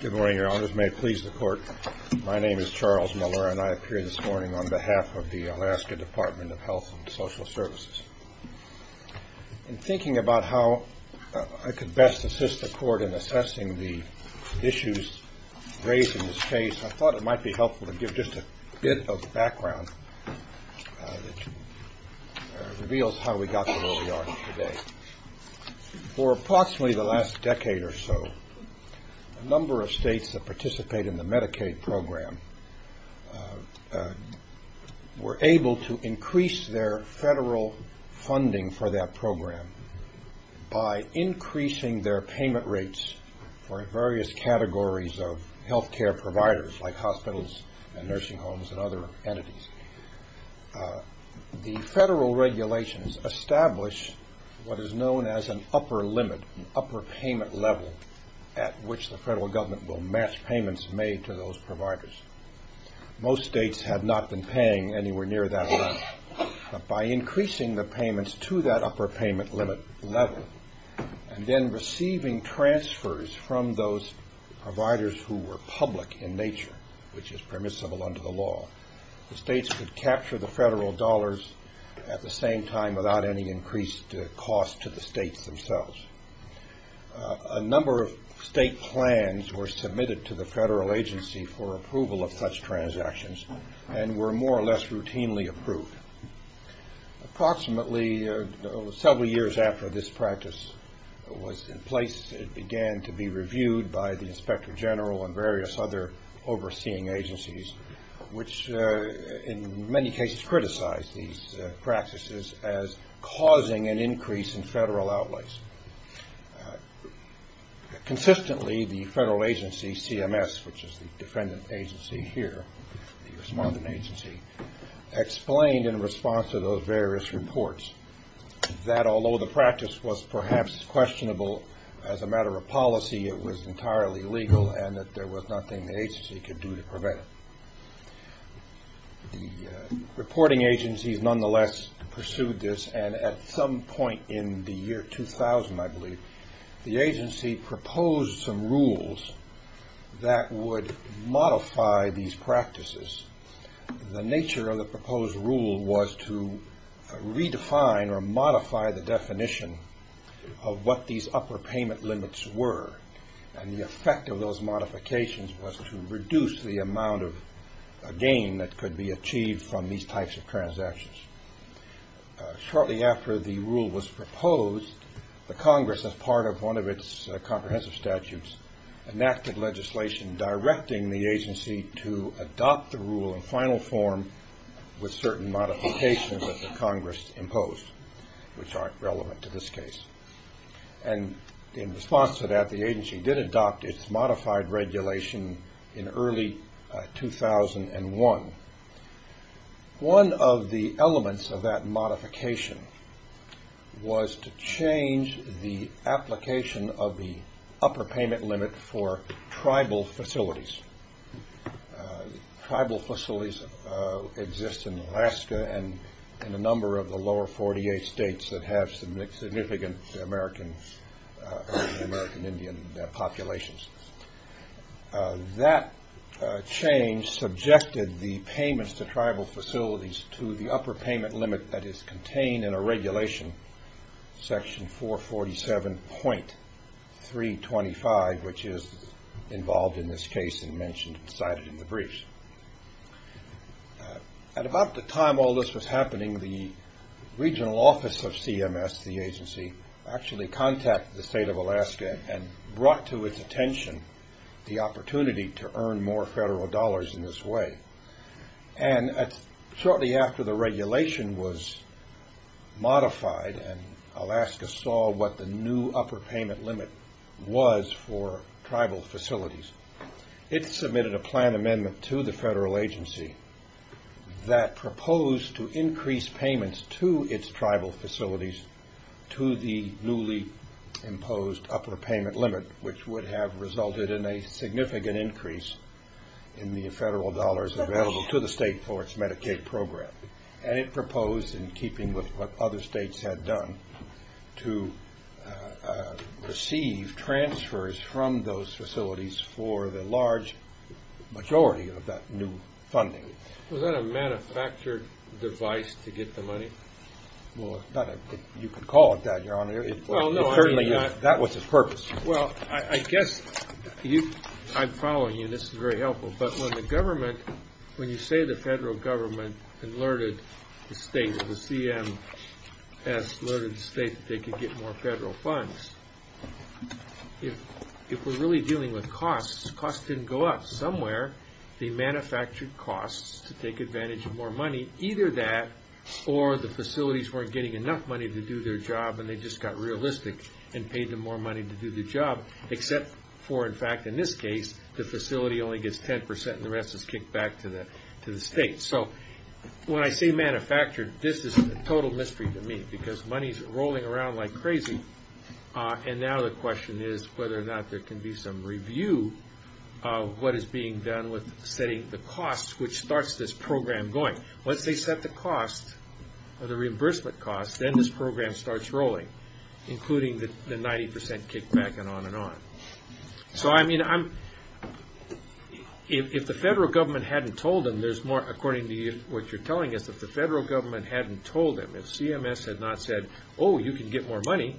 Good morning, Your Honors. May it please the Court, my name is Charles Muller and I appear this morning on behalf of the Alaska Department of Health and Social Services. In thinking about how I could best assist the Court in assessing the issues raised in this case, I thought it might be helpful to give just a bit of background that reveals how we got to where we are today. For approximately the last decade or so, a number of states that participate in the Medicaid program were able to increase their federal funding for that program by increasing their payment rates for various categories of health care providers like hospitals and nursing homes and other entities. The federal regulations establish what is known as an upper limit, an upper payment level at which the federal government will match payments made to those providers. Most states had not been paying anywhere near that level. By increasing the payments to that upper payment limit level and then receiving transfers from those providers who were public in nature, which is permissible under the law, the states could capture the federal dollars at the same time without any increased cost to the states themselves. A number of state plans were submitted to the federal agency for approval of such transactions and were more or less routinely approved. Approximately several years after this practice was in place, it began to be reviewed by the Inspector General and various other overseeing agencies, which in many cases criticized these practices as causing an increase in federal outlays. Consistently, the federal agency, CMS, which is the defendant agency here, the respondent agency, explained in response to those various reports that although the practice was perhaps questionable as a matter of policy, it was entirely legal and that there was nothing the agency could do to prevent it. The reporting agencies nonetheless pursued this, and at some point in the year 2000, I believe, the agency proposed some rules that would modify these practices. The nature of the proposed rule was to redefine or modify the definition of what these upper payment limits were, and the effect of those modifications was to reduce the amount of gain that could be achieved from these types of transactions. Shortly after the rule was proposed, the Congress, as part of one of its comprehensive statutes, enacted legislation directing the agency to adopt the rule in final form with certain modifications that the Congress imposed, which aren't relevant to this case. In response to that, the agency did adopt its modified regulation in early 2001. One of the elements of that modification was to change the application of the upper payment limit for tribal facilities. Tribal facilities exist in Alaska and a number of the lower 48 states that have significant American Indian populations. That change subjected the payments to tribal facilities to the upper payment limit that is contained in a regulation, section 447.325, which is involved in this case and cited in the briefs. At about the time all this was happening, the regional office of CMS, the agency, actually contacted the state of Alaska and brought to its attention the opportunity to earn more federal dollars in this way. Shortly after the regulation was modified and Alaska saw what the new upper payment limit was for tribal facilities, it submitted a plan amendment to the federal agency that proposed to increase payments to its tribal facilities to the newly imposed upper payment limit, which would have resulted in a significant increase in the federal dollars available to the state for its Medicaid program. And it proposed, in keeping with what other states had done, to receive transfers from those facilities for the large majority of that new funding. Was that a manufactured device to get the money? Well, you could call it that, Your Honor. Well, no. That was its purpose. Well, I guess I'm following you. This is very helpful. But when the government, when you say the federal government alerted the state, the CMS alerted the state that they could get more federal funds, if we're really dealing with costs, costs didn't go up somewhere. They manufactured costs to take advantage of more money. Either that or the facilities weren't getting enough money to do their job and they just got realistic and paid them more money to do their job, except for, in fact, in this case, the facility only gets 10% and the rest is kicked back to the state. So when I say manufactured, this is a total mystery to me because money is rolling around like crazy. And now the question is whether or not there can be some review of what is being done with setting the cost, which starts this program going. Once they set the cost, the reimbursement cost, then this program starts rolling, including the 90% kickback and on and on. So, I mean, if the federal government hadn't told them, there's more, according to what you're telling us, if the federal government hadn't told them, if CMS had not said, oh, you can get more money,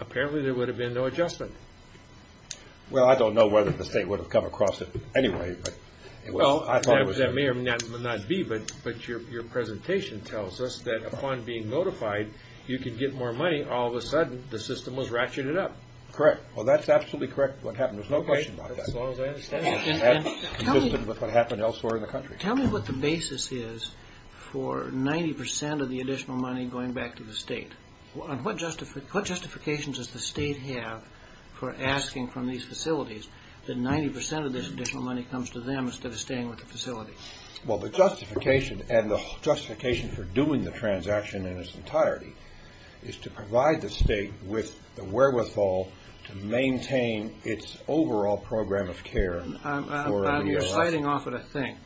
apparently there would have been no adjustment. Well, I don't know whether the state would have come across it anyway. Well, that may or may not be, but your presentation tells us that upon being notified, you can get more money, all of a sudden the system was ratcheted up. Correct. Well, that's absolutely correct, what happened. There's no question about that. Okay, as long as I understand. That's consistent with what happened elsewhere in the country. Tell me what the basis is for 90% of the additional money going back to the state. What justifications does the state have for asking from these facilities that 90% of this additional money comes to them instead of staying with the facility? Well, the justification, and the justification for doing the transaction in its entirety, is to provide the state with the wherewithal to maintain its overall program of care. You're siding off at a thing.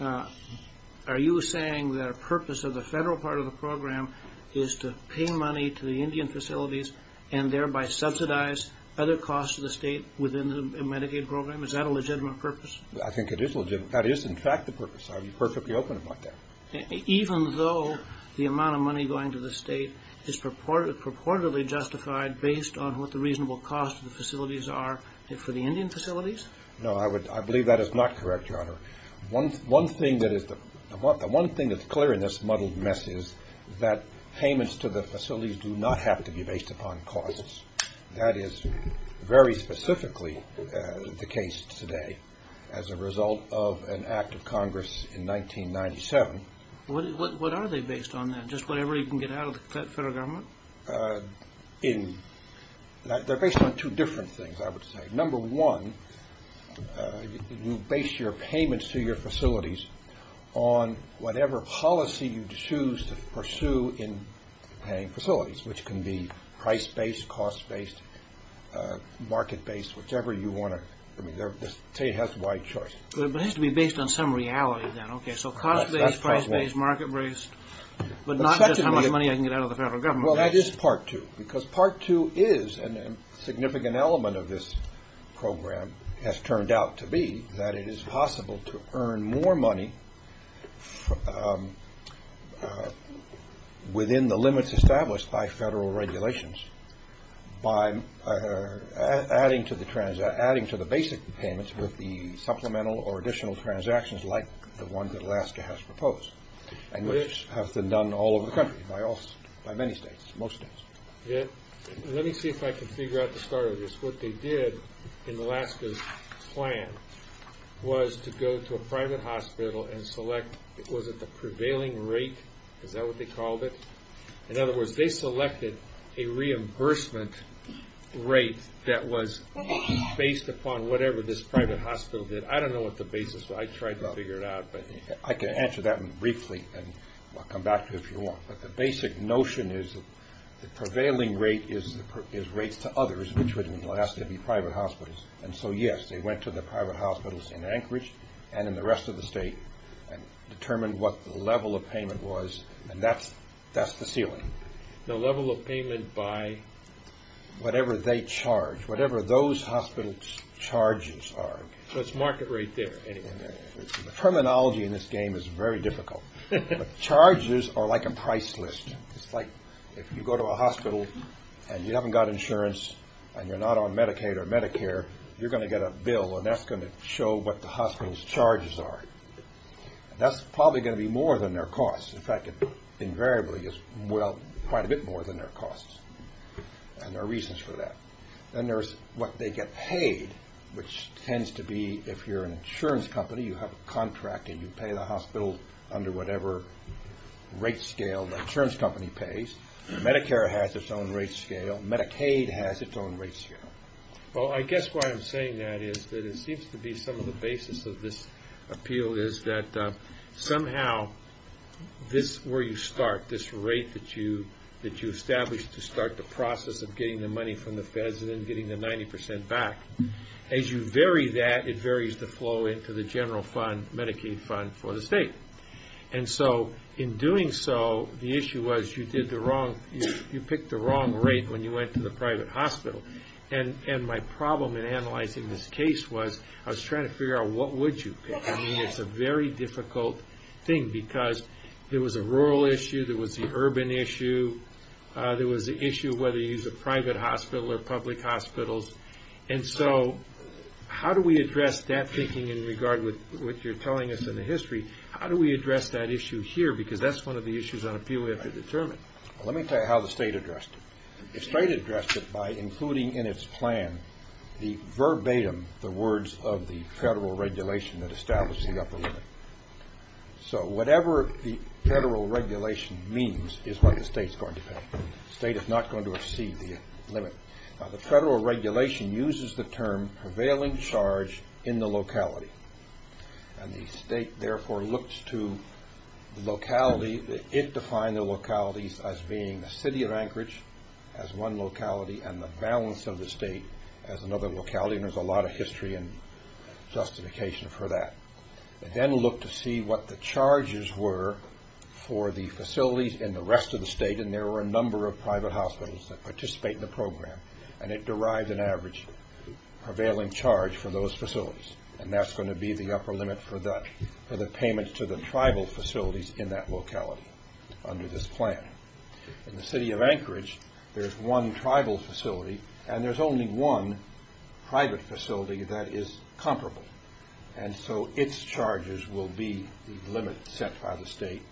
Are you saying that a purpose of the federal part of the program is to pay money to the Indian facilities and thereby subsidize other costs to the state within the Medicaid program? Is that a legitimate purpose? I think it is legitimate. That is, in fact, the purpose. I would be perfectly open about that. Even though the amount of money going to the state is purportedly justified based on what the reasonable costs of the facilities are for the Indian facilities? No, I believe that is not correct, Your Honor. The one thing that's clear in this muddled mess is that payments to the facilities do not have to be based upon causes. That is very specifically the case today as a result of an act of Congress in 1997. What are they based on then? Just whatever you can get out of the federal government? They're based on two different things, I would say. Number one, you base your payments to your facilities on whatever policy you choose to pursue in paying facilities, which can be price-based, cost-based, market-based, whichever you want to. I mean, the state has a wide choice. But it has to be based on some reality then. Okay, so cost-based, price-based, market-based, but not just how much money I can get out of the federal government. Well, that is part two, because part two is a significant element of this program, has turned out to be that it is possible to earn more money within the limits established by federal regulations by adding to the basic payments with the supplemental or additional transactions like the one that Alaska has proposed, which has been done all over the country by many states, most states. Let me see if I can figure out the start of this. What they did in Alaska's plan was to go to a private hospital and select, was it the prevailing rate? Is that what they called it? In other words, they selected a reimbursement rate that was based upon whatever this private hospital did. I don't know what the basis was. I tried to figure it out. I can answer that briefly, and I'll come back to it if you want. But the basic notion is the prevailing rate is rates to others, which would in Alaska be private hospitals. And so, yes, they went to the private hospitals in Anchorage and in the rest of the state and determined what the level of payment was, and that's the ceiling. The level of payment by? Whatever they charge, whatever those hospitals' charges are. So it's market rate there, anyway. The terminology in this game is very difficult, but charges are like a price list. It's like if you go to a hospital and you haven't got insurance and you're not on Medicaid or Medicare, you're going to get a bill, and that's going to show what the hospital's charges are. That's probably going to be more than their costs. In fact, it invariably is quite a bit more than their costs, and there are reasons for that. Then there's what they get paid, which tends to be if you're an insurance company, you have a contract and you pay the hospital under whatever rate scale the insurance company pays. Medicare has its own rate scale. Medicaid has its own rate scale. Well, I guess why I'm saying that is that it seems to be some of the basis of this appeal is that somehow this where you start, this rate that you establish to start the process of getting the money from the feds and then getting the 90% back, as you vary that, it varies the flow into the general fund, Medicaid fund for the state. And so in doing so, the issue was you picked the wrong rate when you went to the private hospital. And my problem in analyzing this case was I was trying to figure out what would you pick. I mean, it's a very difficult thing because there was a rural issue, there was the urban issue, there was the issue of whether you use a private hospital or public hospitals. And so how do we address that thinking in regard with what you're telling us in the history? How do we address that issue here? Because that's one of the issues on appeal we have to determine. Let me tell you how the state addressed it. The state addressed it by including in its plan the verbatim, the words of the federal regulation that established the upper limit. So whatever the federal regulation means is what the state's going to pay. The state is not going to exceed the limit. Now the federal regulation uses the term prevailing charge in the locality. And the state therefore looks to the locality, it defined the localities as being the city of Anchorage as one locality and the balance of the state as another locality, and there's a lot of history and justification for that. It then looked to see what the charges were for the facilities in the rest of the state, and there were a number of private hospitals that participate in the program, and it derived an average prevailing charge for those facilities. And that's going to be the upper limit for the payment to the tribal facilities in that locality under this plan. In the city of Anchorage, there's one tribal facility, and there's only one private facility that is comparable. And so its charges will be the limit set by the state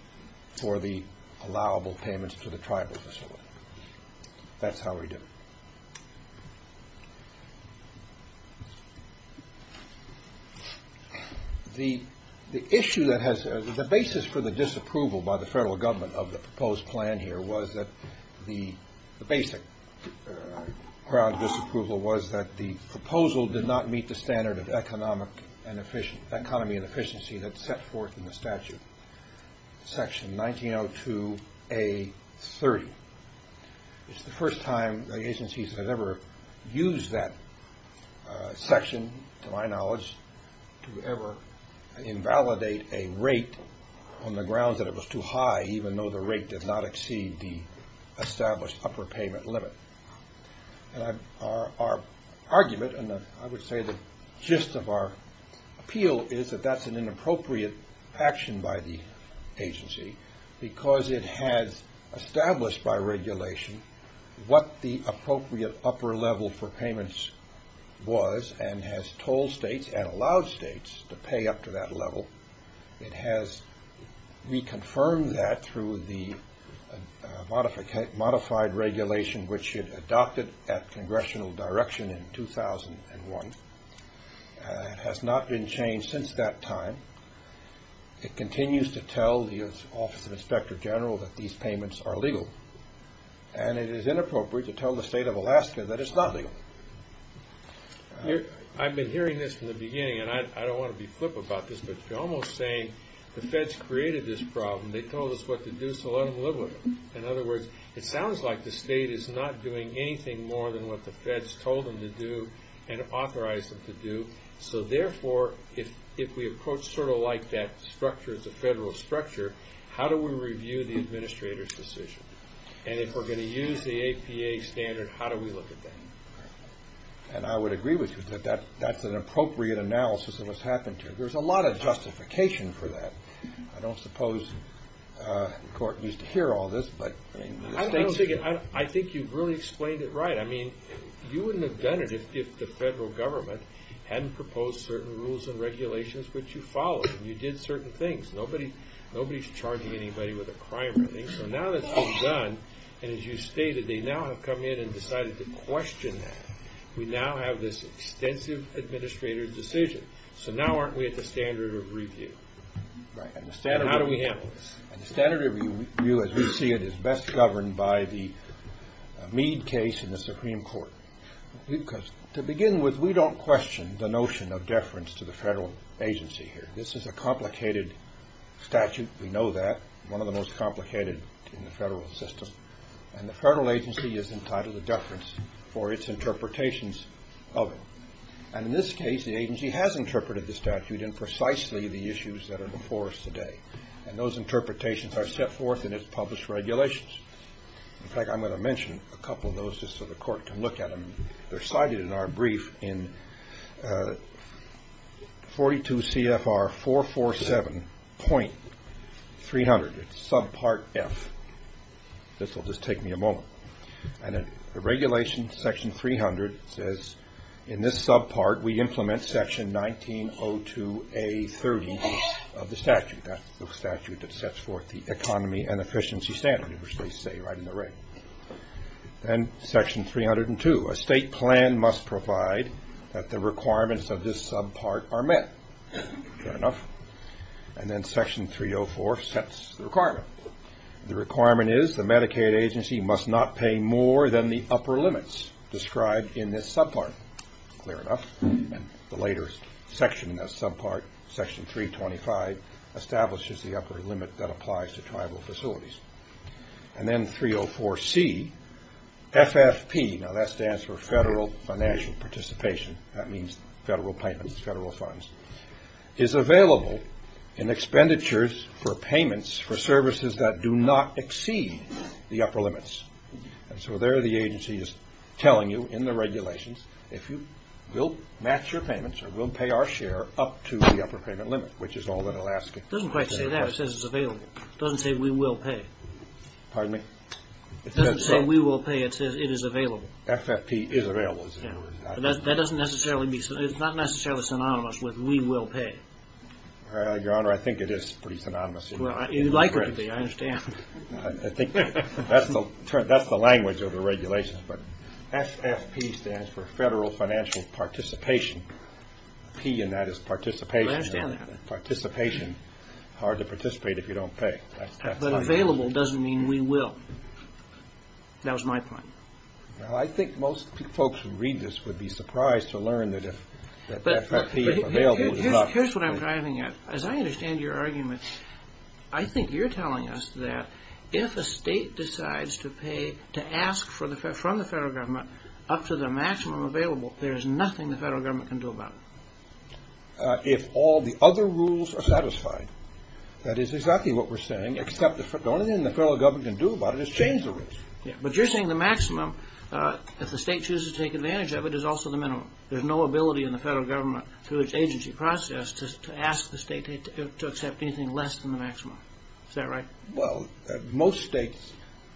for the allowable payments to the tribal facility. That's how we do it. The issue that has the basis for the disapproval by the federal government of the proposed plan here was that the basic ground disapproval was that the proposal did not meet the standard of economy and efficiency that's set forth in the statute. Section 1902A.30. It's the first time the agencies have ever used that section, to my knowledge, to ever invalidate a rate on the grounds that it was too high, even though the rate did not exceed the established upper payment limit. And our argument, and I would say the gist of our appeal, is that that's an inappropriate action by the agency, because it has established by regulation what the appropriate upper level for payments was, and has told states and allowed states to pay up to that level. It has reconfirmed that through the modified regulation, which it adopted at congressional direction in 2001. It has not been changed since that time. It continues to tell the Office of the Inspector General that these payments are legal, and it is inappropriate to tell the state of Alaska that it's not legal. I've been hearing this from the beginning, and I don't want to be flip about this, but you're almost saying the feds created this problem. They told us what to do, so let them live with it. In other words, it sounds like the state is not doing anything more than what the feds told them to do and authorized them to do. So therefore, if we approach sort of like that structure as a federal structure, how do we review the administrator's decision? And if we're going to use the APA standard, how do we look at that? And I would agree with you that that's an appropriate analysis of what's happened here. There's a lot of justification for that. I don't suppose the court needs to hear all this, but the state should. I think you've really explained it right. I mean, you wouldn't have done it if the federal government hadn't proposed certain rules and regulations which you followed and you did certain things. Nobody's charging anybody with a crime or anything. So now that's been done, and as you stated, they now have come in and decided to question that. We now have this extensive administrator decision. So now aren't we at the standard of review? How do we handle this? The standard of review, as we see it, is best governed by the Meade case in the Supreme Court. To begin with, we don't question the notion of deference to the federal agency here. This is a complicated statute. We know that. One of the most complicated in the federal system. And the federal agency is entitled to deference for its interpretations of it. And in this case, the agency has interpreted the statute in precisely the issues that are before us today. And those interpretations are set forth in its published regulations. In fact, I'm going to mention a couple of those just so the court can look at them. They're cited in our brief in 42 CFR 447.300. It's subpart F. This will just take me a moment. And the regulation, section 300, says in this subpart we implement section 1902A.30 of the statute. That's the statute that sets forth the economy and efficiency standard, which they say right in the ring. And section 302, a state plan must provide that the requirements of this subpart are met. Fair enough. And then section 304 sets the requirement. The requirement is the Medicaid agency must not pay more than the upper limits described in this subpart. Fair enough. And the later section in that subpart, section 325, establishes the upper limit that applies to tribal facilities. And then 304C, FFP, now that stands for federal financial participation. That means federal payments, federal funds. Is available in expenditures for payments for services that do not exceed the upper limits. And so there the agency is telling you in the regulations if you will match your payments or we'll pay our share up to the upper payment limit, which is all that it'll ask. It doesn't quite say that. It says it's available. It doesn't say we will pay. Pardon me? It doesn't say we will pay. It says it is available. FFP is available. It's not necessarily synonymous with we will pay. Your Honor, I think it is pretty synonymous. You'd like it to be. I understand. I think that's the language of the regulations. But FFP stands for federal financial participation. P in that is participation. I understand that. Participation, hard to participate if you don't pay. But available doesn't mean we will. That was my point. Well, I think most folks who read this would be surprised to learn that FFP is available. Here's what I'm driving at. As I understand your argument, I think you're telling us that if a state decides to pay, to ask from the federal government up to the maximum available, there is nothing the federal government can do about it. If all the other rules are satisfied, that is exactly what we're saying, except the only thing the federal government can do about it is change the rules. But you're saying the maximum, if the state chooses to take advantage of it, is also the minimum. There's no ability in the federal government, through its agency process, to ask the state to accept anything less than the maximum. Is that right? Well, most states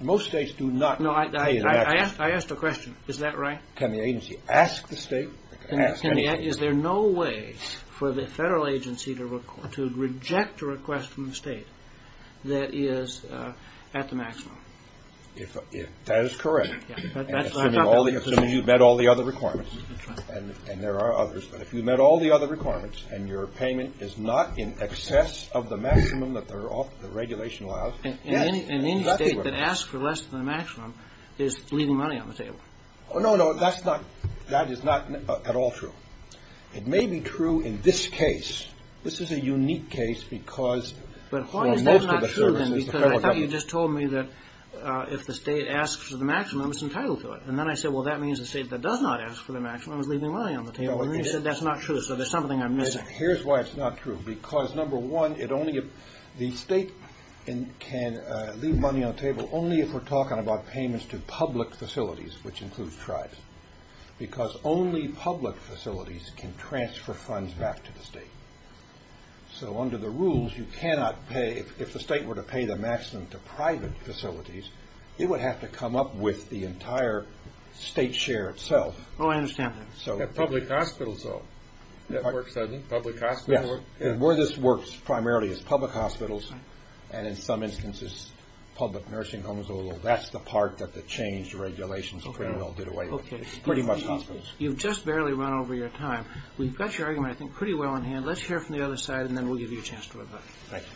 do not pay. I asked a question. Is that right? Can the agency ask the state? Is there no way for the federal agency to reject a request from the state that is at the maximum? That is correct. Assuming you've met all the other requirements, and there are others, but if you've met all the other requirements and your payment is not in excess of the maximum that the regulation allows. And any state that asks for less than the maximum is leaving money on the table. Oh, no, no. That is not at all true. It may be true in this case. This is a unique case because for most of the services, the federal government. Well, you just told me that if the state asks for the maximum, it's entitled to it. And then I said, well, that means the state that does not ask for the maximum is leaving money on the table. You said that's not true, so there's something I'm missing. Here's why it's not true. Because, number one, the state can leave money on the table only if we're talking about payments to public facilities, which includes tribes. Because only public facilities can transfer funds back to the state. So under the rules, you cannot pay. If the state were to pay the maximum to private facilities, it would have to come up with the entire state share itself. Oh, I understand that. Public hospitals, though. That works, doesn't it? Yes. Where this works primarily is public hospitals, and in some instances, public nursing homes, although that's the part that the changed regulations pretty well did away with. Pretty much hospitals. You've just barely run over your time. We've got your argument, I think, pretty well in hand. Let's hear it from the other side, and then we'll give you a chance to rebut. Thank you.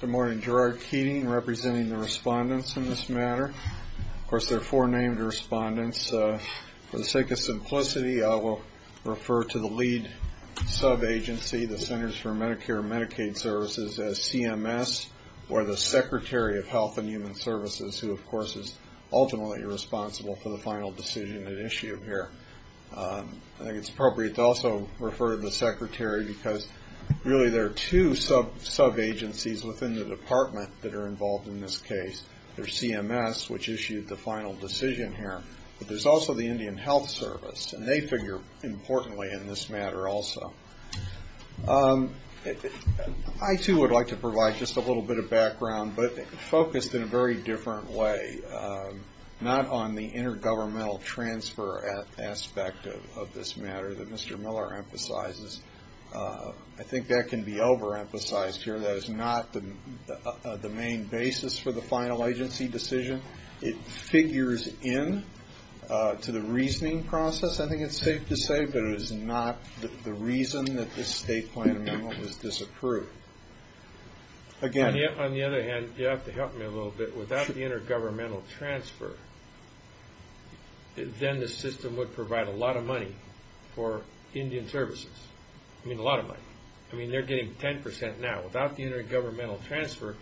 Good morning. Gerard Keating representing the respondents in this matter. Of course, there are four named respondents. For the sake of simplicity, I will refer to the lead sub-agency, the Centers for Medicare and Medicaid Services, as CMS, or the Secretary of Health and Human Services, who, of course, is ultimately responsible for the final decision at issue here. I think it's appropriate to also refer to the Secretary because, really, there are two sub-agencies within the department that are involved in this case. There's CMS, which issued the final decision here, but there's also the Indian Health Service, and they figure importantly in this matter also. I, too, would like to provide just a little bit of background, but focused in a very different way, not on the intergovernmental transfer aspect of this matter that Mr. Miller emphasizes. I think that can be overemphasized here. That is not the main basis for the final agency decision. It figures in to the reasoning process, I think it's safe to say, but it is not the reason that this state plan amendment was disapproved. On the other hand, you have to help me a little bit. Without the intergovernmental transfer, then the system would provide a lot of money for Indian services. I mean, a lot of money. I mean, they're getting 10 percent now. Without the intergovernmental transfer,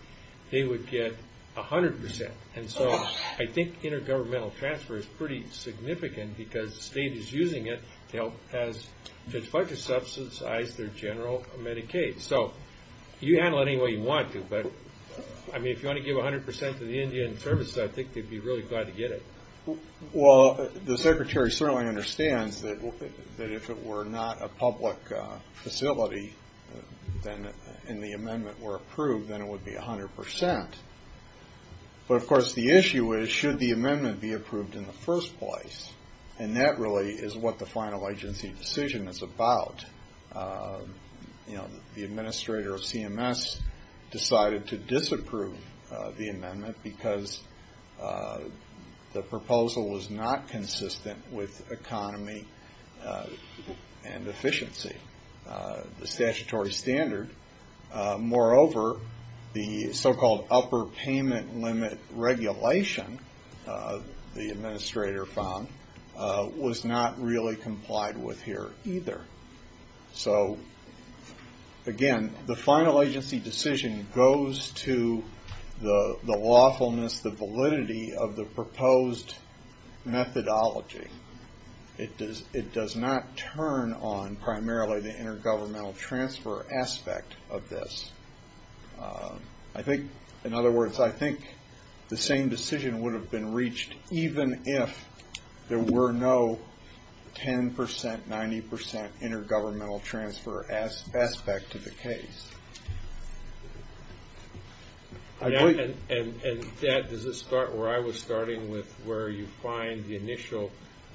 they would get 100 percent. And so I think intergovernmental transfer is pretty significant because the state is using it to help as to try to subsidize their general Medicaid. So you handle it any way you want to, but, I mean, if you want to give 100 percent to the Indian services, I think they'd be really glad to get it. Well, the Secretary certainly understands that if it were not a public facility and the amendment were approved, then it would be 100 percent. But, of course, the issue is, should the amendment be approved in the first place? And that really is what the final agency decision is about. The administrator of CMS decided to disapprove the amendment because the proposal was not consistent with economy and efficiency, the statutory standard. Moreover, the so-called upper payment limit regulation, the administrator found, was not really complied with here either. So, again, the final agency decision goes to the lawfulness, the validity of the proposed methodology. It does not turn on primarily the intergovernmental transfer aspect of this. I think, in other words, I think the same decision would have been reached even if there were no 10 percent, 90 percent intergovernmental transfer aspect to the case. And that, does it start where I was starting with, where you find the initial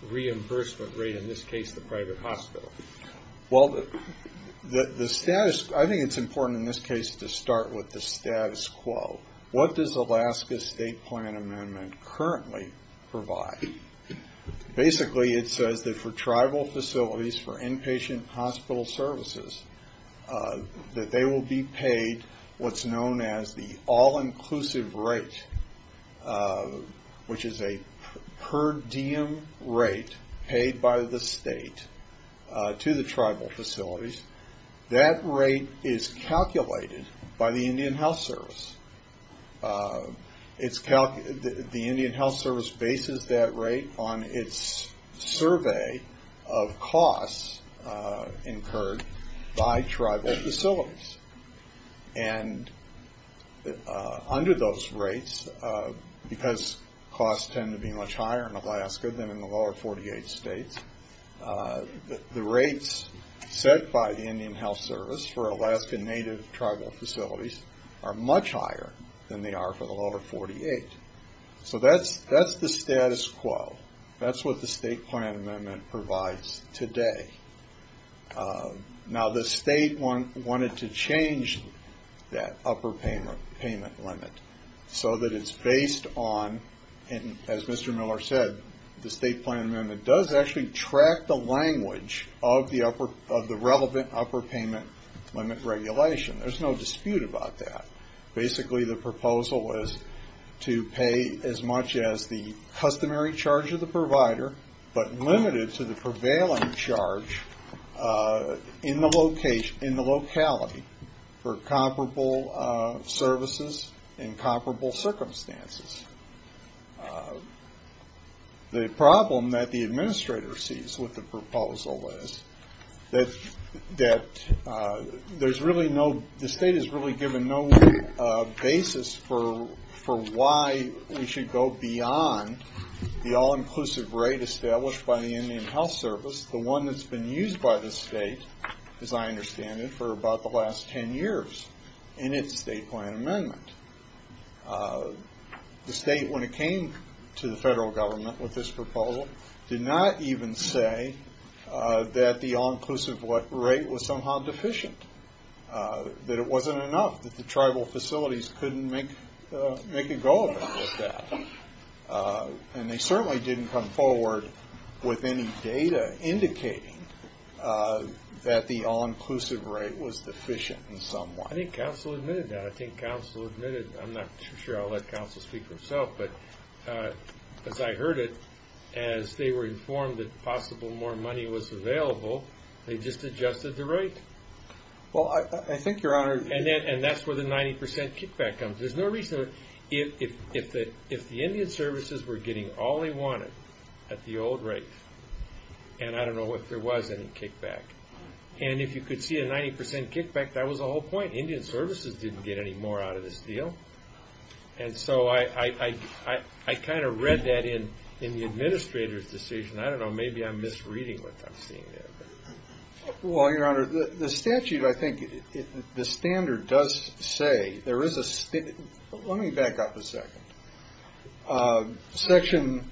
reimbursement rate, in this case the private hospital? Well, the status, I think it's important in this case to start with the status quo. What does Alaska's state plan amendment currently provide? Basically, it says that for tribal facilities, for inpatient hospital services, that they will be paid what's known as the all-inclusive rate, which is a per diem rate paid by the state to the tribal facilities. That rate is calculated by the Indian Health Service. The Indian Health Service bases that rate on its survey of costs incurred by tribal facilities. And under those rates, because costs tend to be much higher in Alaska than in the lower 48 states, the rates set by the Indian Health Service for Alaska native tribal facilities are much higher than they are for the lower 48. So that's the status quo. That's what the state plan amendment provides today. Now, the state wanted to change that upper payment limit so that it's based on, and as Mr. Miller said, the state plan amendment does actually track the language of the relevant upper payment limit regulation. There's no dispute about that. Basically, the proposal was to pay as much as the customary charge of the provider, but limited to the prevailing charge in the locality for comparable services in comparable circumstances. The problem that the administrator sees with the proposal is that there's really no, the state has really given no basis for why we should go beyond the all-inclusive rate established by the Indian Health Service, the one that's been used by the state, as I understand it, for about the last 10 years in its state plan amendment. The state, when it came to the federal government with this proposal, did not even say that the all-inclusive rate was somehow deficient, that it wasn't enough, that the tribal facilities couldn't make a go of it with that. And they certainly didn't come forward with any data indicating that the all-inclusive rate was deficient in some way. I think counsel admitted that. I'm not sure I'll let counsel speak for himself, but as I heard it, as they were informed that possible more money was available, they just adjusted the rate. And that's where the 90% kickback comes. There's no reason, if the Indian services were getting all they wanted at the old rate, and I don't know if there was any kickback, and if you could see a 90% kickback, that was the whole point. Indian services didn't get any more out of this deal. And so I kind of read that in the administrator's decision. I don't know, maybe I'm misreading what I'm seeing there. Well, Your Honor, the statute, I think, the standard does say there is a... Let me back up a second. Section,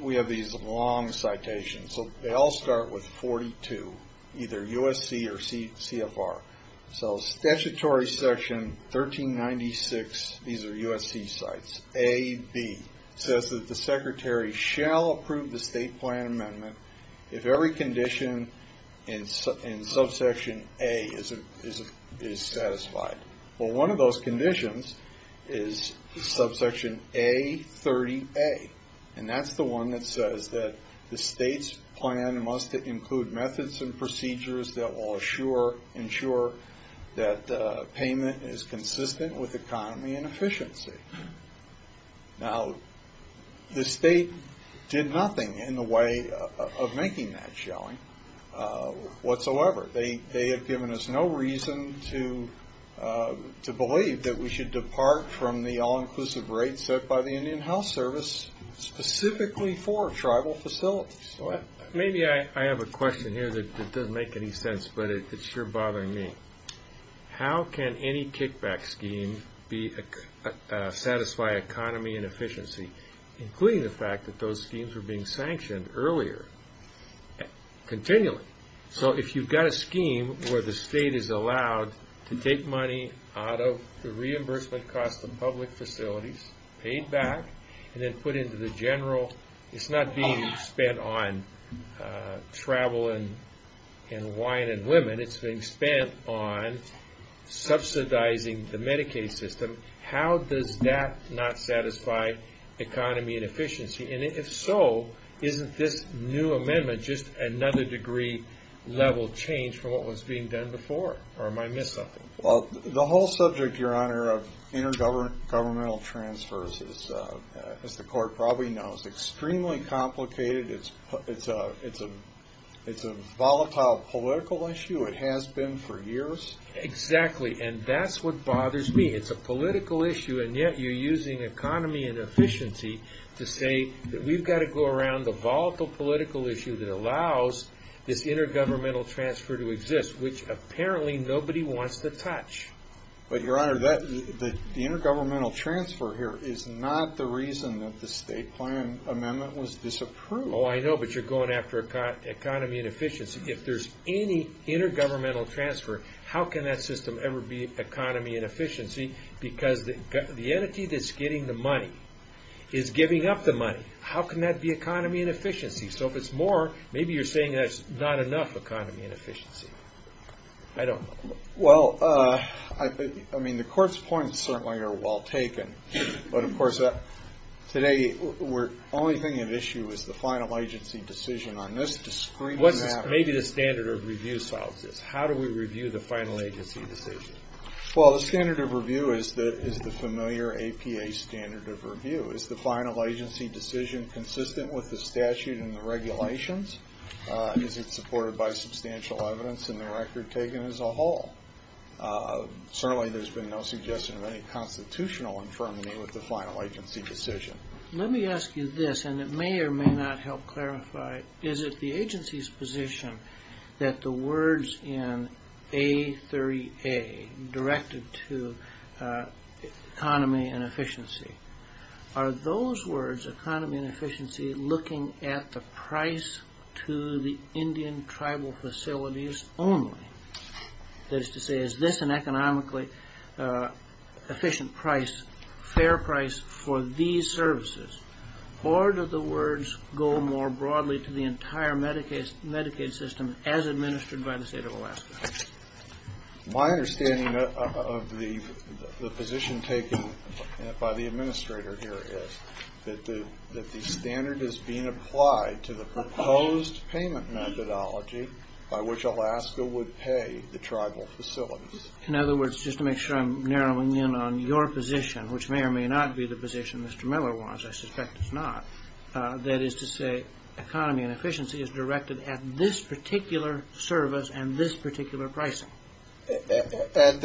we have these long citations, so they all start with 42, either USC or CFR. So statutory section 1396, these are USC sites, AB, says that the secretary shall approve the state plan amendment if every condition in subsection A is satisfied. Well, one of those conditions is subsection A30A, and that's the one that says that the state's plan must include methods and procedures that will ensure that payment is consistent with economy and efficiency. Now, the state did nothing in the way of making that, shall we, whatsoever. They have given us no reason to believe that we should depart from the all-inclusive rate set by the Indian Health Service specifically for tribal facilities. Well, maybe I have a question here that doesn't make any sense, but it's sure bothering me. How can any kickback scheme satisfy economy and efficiency, including the fact that those schemes were being sanctioned earlier, continually? So if you've got a scheme where the state is allowed to take money out of the reimbursement cost of public facilities, paid back, and then put into the general, it's not being spent on travel and wine and women. It's being spent on subsidizing the Medicaid system. How does that not satisfy economy and efficiency? And if so, isn't this new amendment just another degree level change from what was being done before? Or am I missing something? Well, the whole subject, Your Honor, of intergovernmental transfers, as the court probably knows, is extremely complicated. It's a volatile political issue. It has been for years. Exactly, and that's what bothers me. It's a political issue, and yet you're using economy and efficiency to say that we've got to go around the volatile political issue that allows this intergovernmental transfer to exist, which apparently nobody wants to touch. But, Your Honor, the intergovernmental transfer here is not the reason that the state plan amendment was disapproved. Oh, I know, but you're going after economy and efficiency. If there's any intergovernmental transfer, how can that system ever be economy and efficiency? Because the entity that's getting the money is giving up the money. How can that be economy and efficiency? So if it's more, maybe you're saying that's not enough economy and efficiency. I don't know. Well, I mean, the court's points certainly are well taken. But, of course, today the only thing at issue is the final agency decision on this discreet amendment. Maybe the standard of review solves this. How do we review the final agency decision? Well, the standard of review is the familiar APA standard of review. Is the final agency decision consistent with the statute and the regulations? Is it supported by substantial evidence in the record taken as a whole? Certainly there's been no suggestion of any constitutional infirmity with the final agency decision. Let me ask you this, and it may or may not help clarify. Is it the agency's position that the words in A30A, directed to economy and efficiency, are those words, economy and efficiency, looking at the price to the Indian tribal facilities only? That is to say, is this an economically efficient price, fair price for these services? Or do the words go more broadly to the entire Medicaid system as administered by the state of Alaska? My understanding of the position taken by the administrator here is that the standard is being applied to the proposed payment methodology by which Alaska would pay the tribal facilities. In other words, just to make sure I'm narrowing in on your position, which may or may not be the position Mr. Miller wants, I suspect it's not, that is to say economy and efficiency is directed at this particular service and this particular pricing. At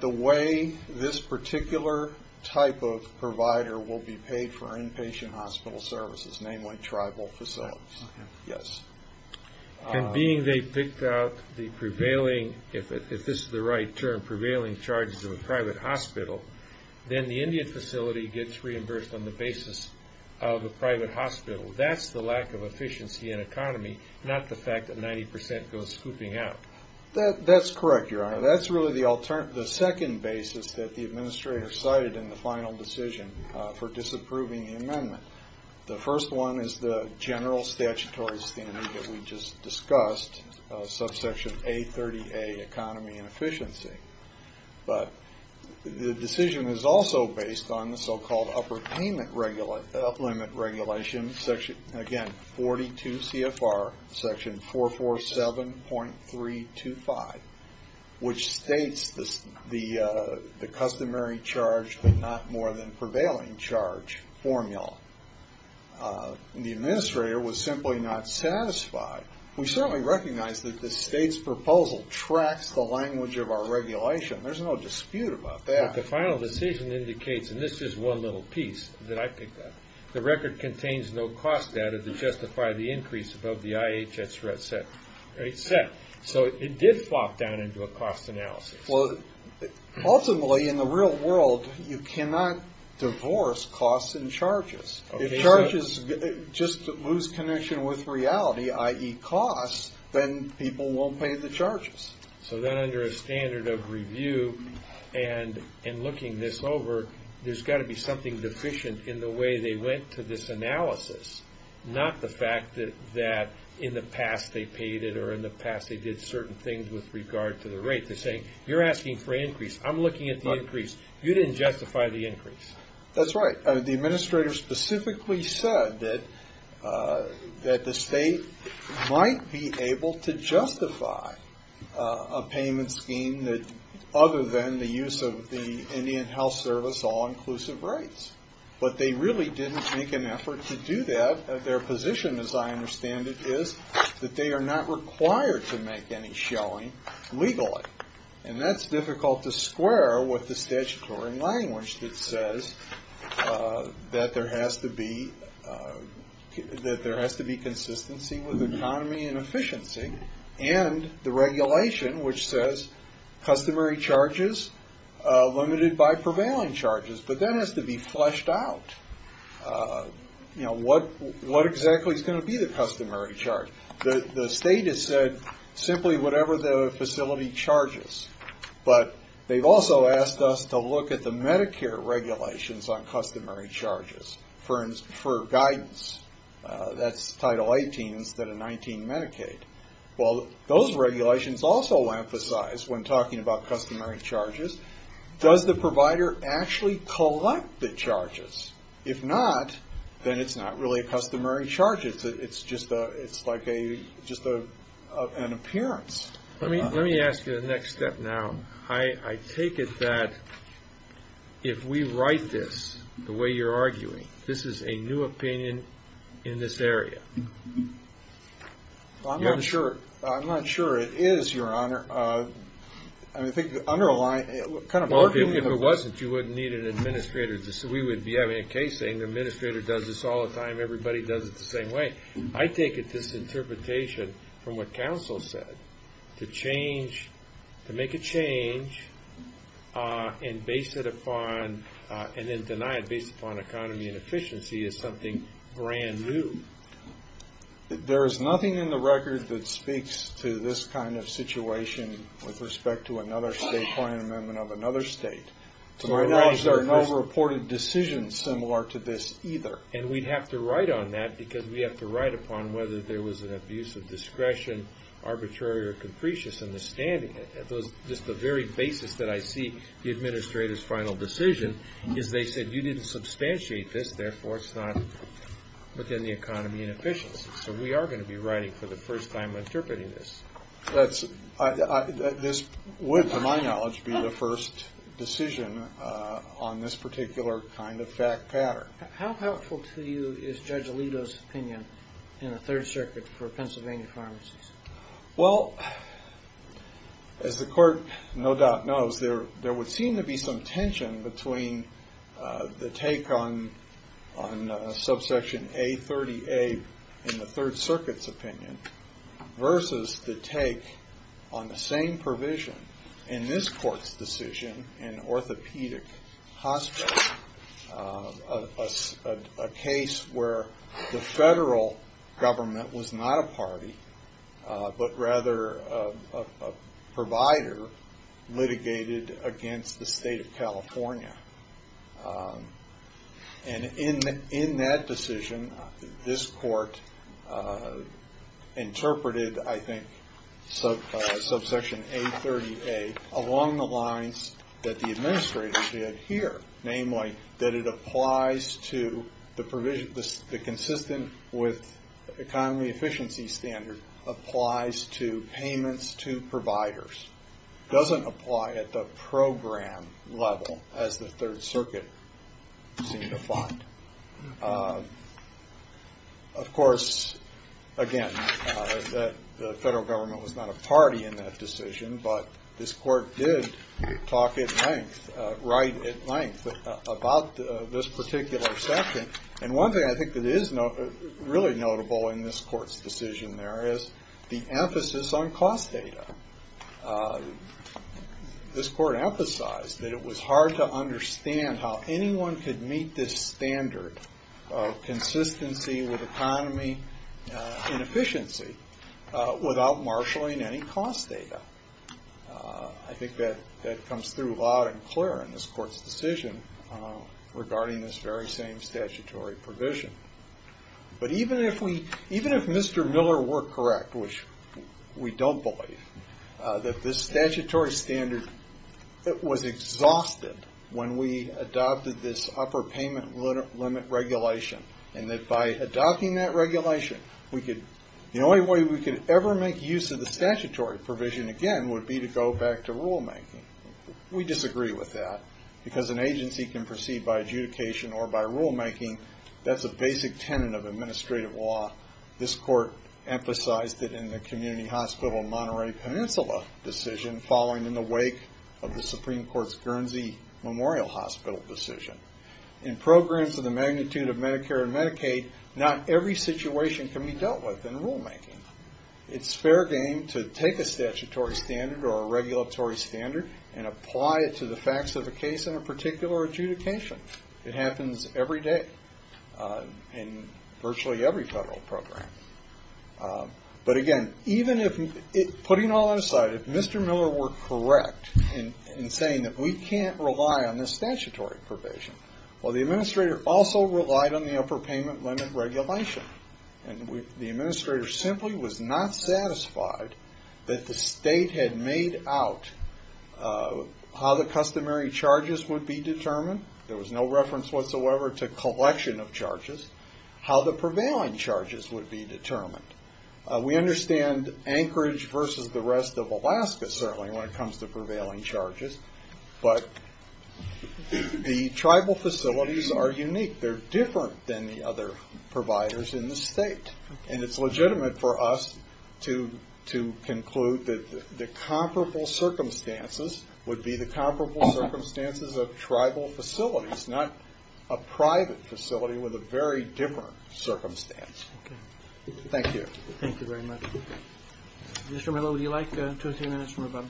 the way this particular type of provider will be paid for inpatient hospital services, namely tribal facilities. Yes. And being they picked out the prevailing, if this is the right term, prevailing charges of a private hospital, then the Indian facility gets reimbursed on the basis of a private hospital. That's the lack of efficiency in economy, not the fact that 90% goes scooping out. That's correct, Your Honor. That's really the second basis that the administrator cited in the final decision for disapproving the amendment. The first one is the general statutory standard that we just discussed, subsection A30A, economy and efficiency. But the decision is also based on the so-called upper payment limit regulation, again, 42 CFR, section 447.325, which states the customary charge but not more than prevailing charge formula. The administrator was simply not satisfied. We certainly recognize that the state's proposal tracks the language of our regulation. There's no dispute about that. But the final decision indicates, and this is one little piece that I picked out, the record contains no cost data to justify the increase above the IHS rate set. So it did flop down into a cost analysis. Well, ultimately, in the real world, you cannot divorce costs and charges. If charges just lose connection with reality, i.e. costs, then people won't pay the charges. So then under a standard of review and looking this over, there's got to be something deficient in the way they went to this analysis, not the fact that in the past they paid it or in the past they did certain things with regard to the rate. They're saying, you're asking for an increase. I'm looking at the increase. You didn't justify the increase. That's right. The administrator specifically said that the state might be able to justify a payment scheme that, other than the use of the Indian Health Service all-inclusive rates. But they really didn't make an effort to do that. Their position, as I understand it, is that they are not required to make any showing legally. And that's difficult to square with the statutory language that says that there has to be consistency with economy and efficiency and the regulation which says customary charges limited by prevailing charges. But that has to be fleshed out. What exactly is going to be the customary charge? The state has said simply whatever the facility charges. But they've also asked us to look at the Medicare regulations on customary charges for guidance. That's Title 18 instead of 19 Medicaid. Well, those regulations also emphasize, when talking about customary charges, does the provider actually collect the charges? If not, then it's not really a customary charge. It's just an appearance. Let me ask you the next step now. I take it that if we write this the way you're arguing, this is a new opinion in this area. I'm not sure it is, Your Honor. Well, even if it wasn't, you wouldn't need an administrator. We would be having a case saying the administrator does this all the time. Everybody does it the same way. I take it this interpretation from what counsel said, to make a change and then deny it based upon economy and efficiency is something brand new. There is nothing in the record that speaks to this kind of situation with respect to another state My knowledge there are no reported decisions similar to this either. And we'd have to write on that because we have to write upon whether there was an abuse of discretion, arbitrary or capricious in the standing. Just the very basis that I see the administrator's final decision is they said you didn't substantiate this, therefore it's not within the economy and efficiency. So we are going to be writing for the first time interpreting this. This would, to my knowledge, be the first decision on this particular kind of fact pattern. How helpful to you is Judge Alito's opinion in the Third Circuit for Pennsylvania pharmacies? Well, as the Court no doubt knows, there would seem to be some tension between the take on subsection A30A in the Third Circuit's opinion versus the take on the same provision in this Court's decision in orthopedic hospitals. A case where the federal government was not a party, but rather a provider litigated against the state of California. And in that decision, this Court interpreted, I think, subsection A30A along the lines that the administrators did here. Namely, that it applies to the provision, the consistent with economy efficiency standard applies to payments to providers. It doesn't apply at the program level as the Third Circuit seemed to find. Of course, again, the federal government was not a party in that decision, but this Court did talk at length, write at length about this particular section. And one thing I think that is really notable in this Court's decision there is the emphasis on cost data. This Court emphasized that it was hard to understand how anyone could meet this standard of consistency with economy and efficiency without marshaling any cost data. I think that comes through loud and clear in this Court's decision regarding this very same statutory provision. But even if Mr. Miller were correct, which we don't believe, that this statutory standard was exhausted when we adopted this upper payment limit regulation. And that by adopting that regulation, the only way we could ever make use of the statutory provision again would be to go back to rulemaking. We disagree with that because an agency can proceed by adjudication or by rulemaking. That's a basic tenet of administrative law. This Court emphasized it in the community hospital Monterey Peninsula decision following in the wake of the Supreme Court's Guernsey Memorial Hospital decision. In programs of the magnitude of Medicare and Medicaid, not every situation can be dealt with in rulemaking. It's fair game to take a statutory standard or a regulatory standard and apply it to the facts of a case in a particular adjudication. It happens every day in virtually every federal program. But again, putting all that aside, if Mr. Miller were correct in saying that we can't rely on this statutory provision, well, the administrator also relied on the upper payment limit regulation. And the administrator simply was not satisfied that the state had made out how the customary charges would be determined. There was no reference whatsoever to collection of charges. How the prevailing charges would be determined. We understand Anchorage versus the rest of Alaska certainly when it comes to prevailing charges. But the tribal facilities are unique. They're different than the other providers in the state. And it's legitimate for us to conclude that the comparable circumstances would be the comparable circumstances of tribal facilities, not a private facility with a very different circumstance. Okay. Thank you. Thank you very much. Mr. Miller, would you like two or three minutes from above?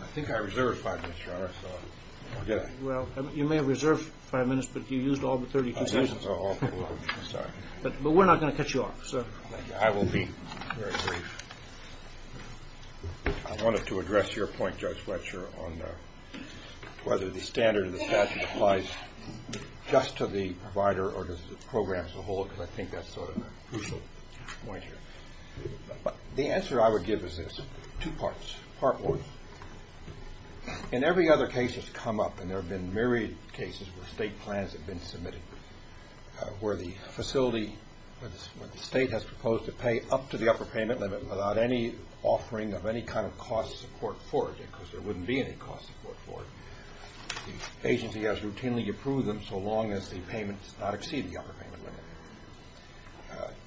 I think I reserved five minutes, Your Honor. Did I? Well, you may have reserved five minutes, but you used all the 32 seconds. Oh, I'm sorry. But we're not going to cut you off, so. I will be very brief. I wanted to address your point, Judge Fletcher, on whether the standard of the statute applies just to the provider or to the program as a whole because I think that's sort of a crucial point here. But the answer I would give is this, two parts. Part one, in every other case that's come up, and there have been myriad cases where state plans have been submitted, where the facility or the state has proposed to pay up to the upper payment limit without any offering of any kind of cost support for it because there wouldn't be any cost support for it. The agency has routinely approved them so long as the payment does not exceed the upper payment limit.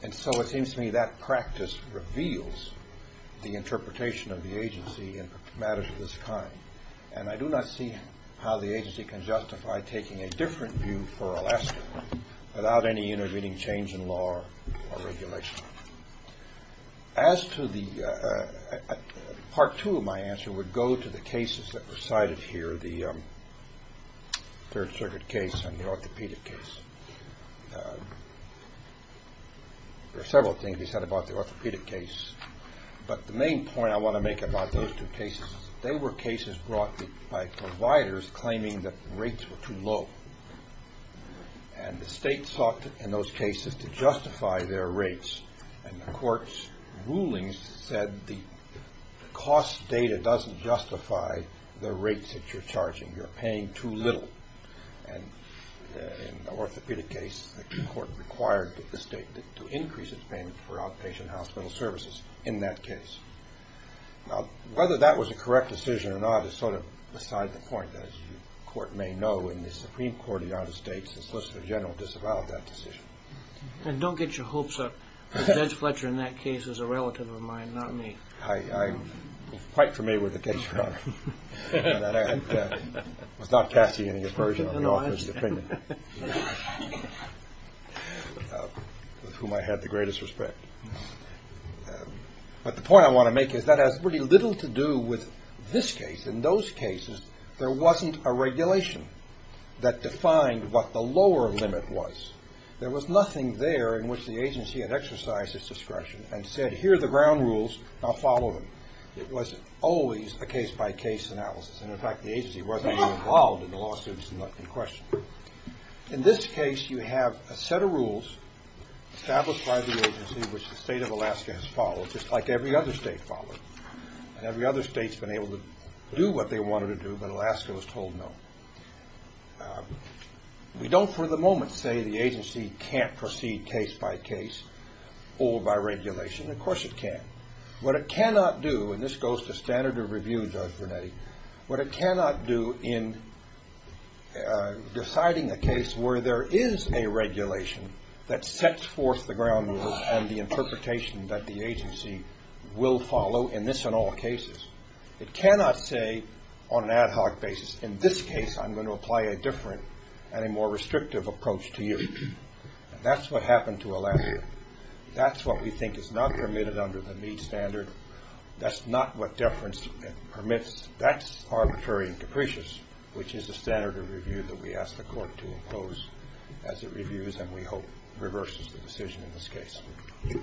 And so it seems to me that practice reveals the interpretation of the agency in matters of this kind. And I do not see how the agency can justify taking a different view for Alaska without any intervening change in law or regulation. As to the part two of my answer would go to the cases that were cited here, the Third Circuit case and the orthopedic case. There are several things he said about the orthopedic case, but the main point I want to make about those two cases, they were cases brought by providers claiming that rates were too low. And the state sought in those cases to justify their rates. And the court's rulings said the cost data doesn't justify the rates that you're charging. You're paying too little. And in the orthopedic case, the court required the state to increase its payment for outpatient hospital services in that case. Now, whether that was a correct decision or not is sort of beside the point. As the court may know, in the Supreme Court of the United States, the Solicitor General disavowed that decision. And don't get your hopes up. Judge Fletcher in that case is a relative of mine, not me. I'm quite familiar with the case, Your Honor. I was not casting any aversion on the author's opinion, with whom I had the greatest respect. But the point I want to make is that has pretty little to do with this case. In those cases, there wasn't a regulation that defined what the lower limit was. There was nothing there in which the agency had exercised its discretion and said, here are the ground rules, now follow them. It was always a case-by-case analysis. And, in fact, the agency wasn't involved in the lawsuits in question. In this case, you have a set of rules established by the agency, which the state of Alaska has followed, just like every other state followed. And every other state's been able to do what they wanted to do, but Alaska was told no. We don't for the moment say the agency can't proceed case-by-case or by regulation. Of course it can. What it cannot do, and this goes to standard of review, Judge Vernetti, what it cannot do in deciding a case where there is a regulation that sets forth the ground rules and the interpretation that the agency will follow in this and all cases, it cannot say on an ad hoc basis, in this case I'm going to apply a different and a more restrictive approach to you. That's what happened to Alaska. That's what we think is not permitted under the Meade standard. That's not what deference permits. That's arbitrary and capricious, which is the standard of review that we ask the court to impose as it reviews and we hope reverses the decision in this case. Thank you.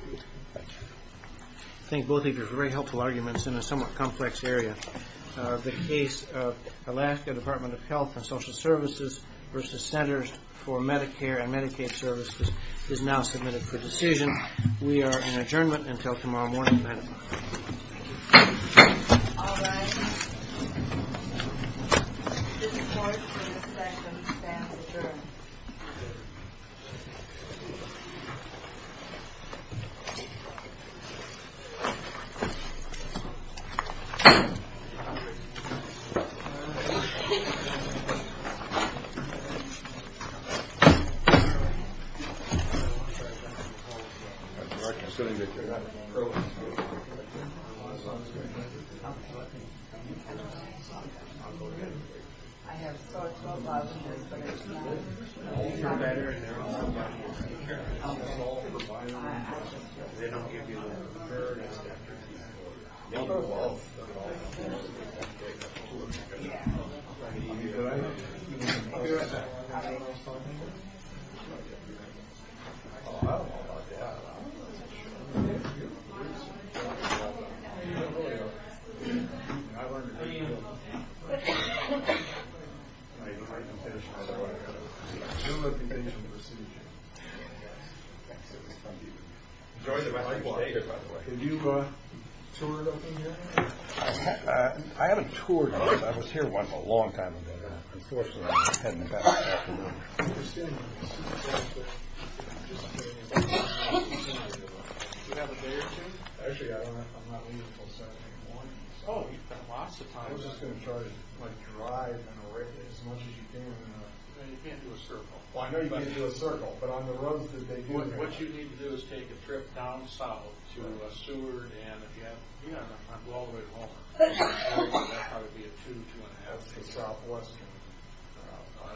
I think both of your very helpful arguments in a somewhat complex area. The case of Alaska Department of Health and Social Services versus Centers for Medicare and Medicaid Services is now submitted for decision. We are in adjournment until tomorrow morning. Thank you. All rise. This court is in a second. The stand is adjourned. I'll go ahead. Enjoy the rest of your stay here, by the way. Did you tour it up in here? I haven't toured it. I was here once a long time ago. Unfortunately, I'm heading back. I'm just kidding. Do you have a day or two? Actually, I'm not leaving until Saturday morning. Oh, you've got lots of time. I'm just going to try to drive and array as much as you can. You can't do a circle. No, you can't do a circle. What you need to do is take a trip down south to Seward and if you have time, go all the way home. That would probably be a two, two-and-a-half to southwest.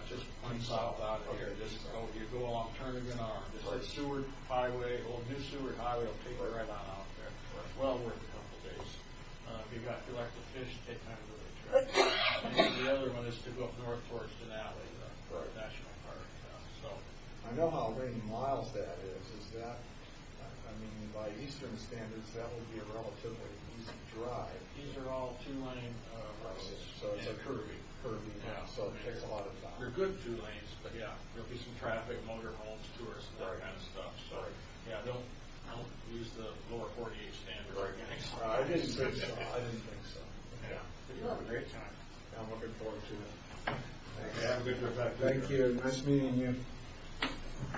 Just one south out of here. You go along Turnagin Arm. New Seward Highway will take you right on out there. It's well worth a couple days. If you'd like to finish, take another trip. The other one is to go up north towards Denali for our national park. I know how many miles that is. By eastern standards, that will be a relatively easy drive. These are all two-lane roads. It's a curvy path, so it takes a lot of time. They're good two lanes, but there will be some traffic, motorhomes, tourists, that kind of stuff. Don't use the lower 48 standards. I didn't think so. You'll have a great time. I'm looking forward to it. Have a good trip back. Thank you. Nice meeting you.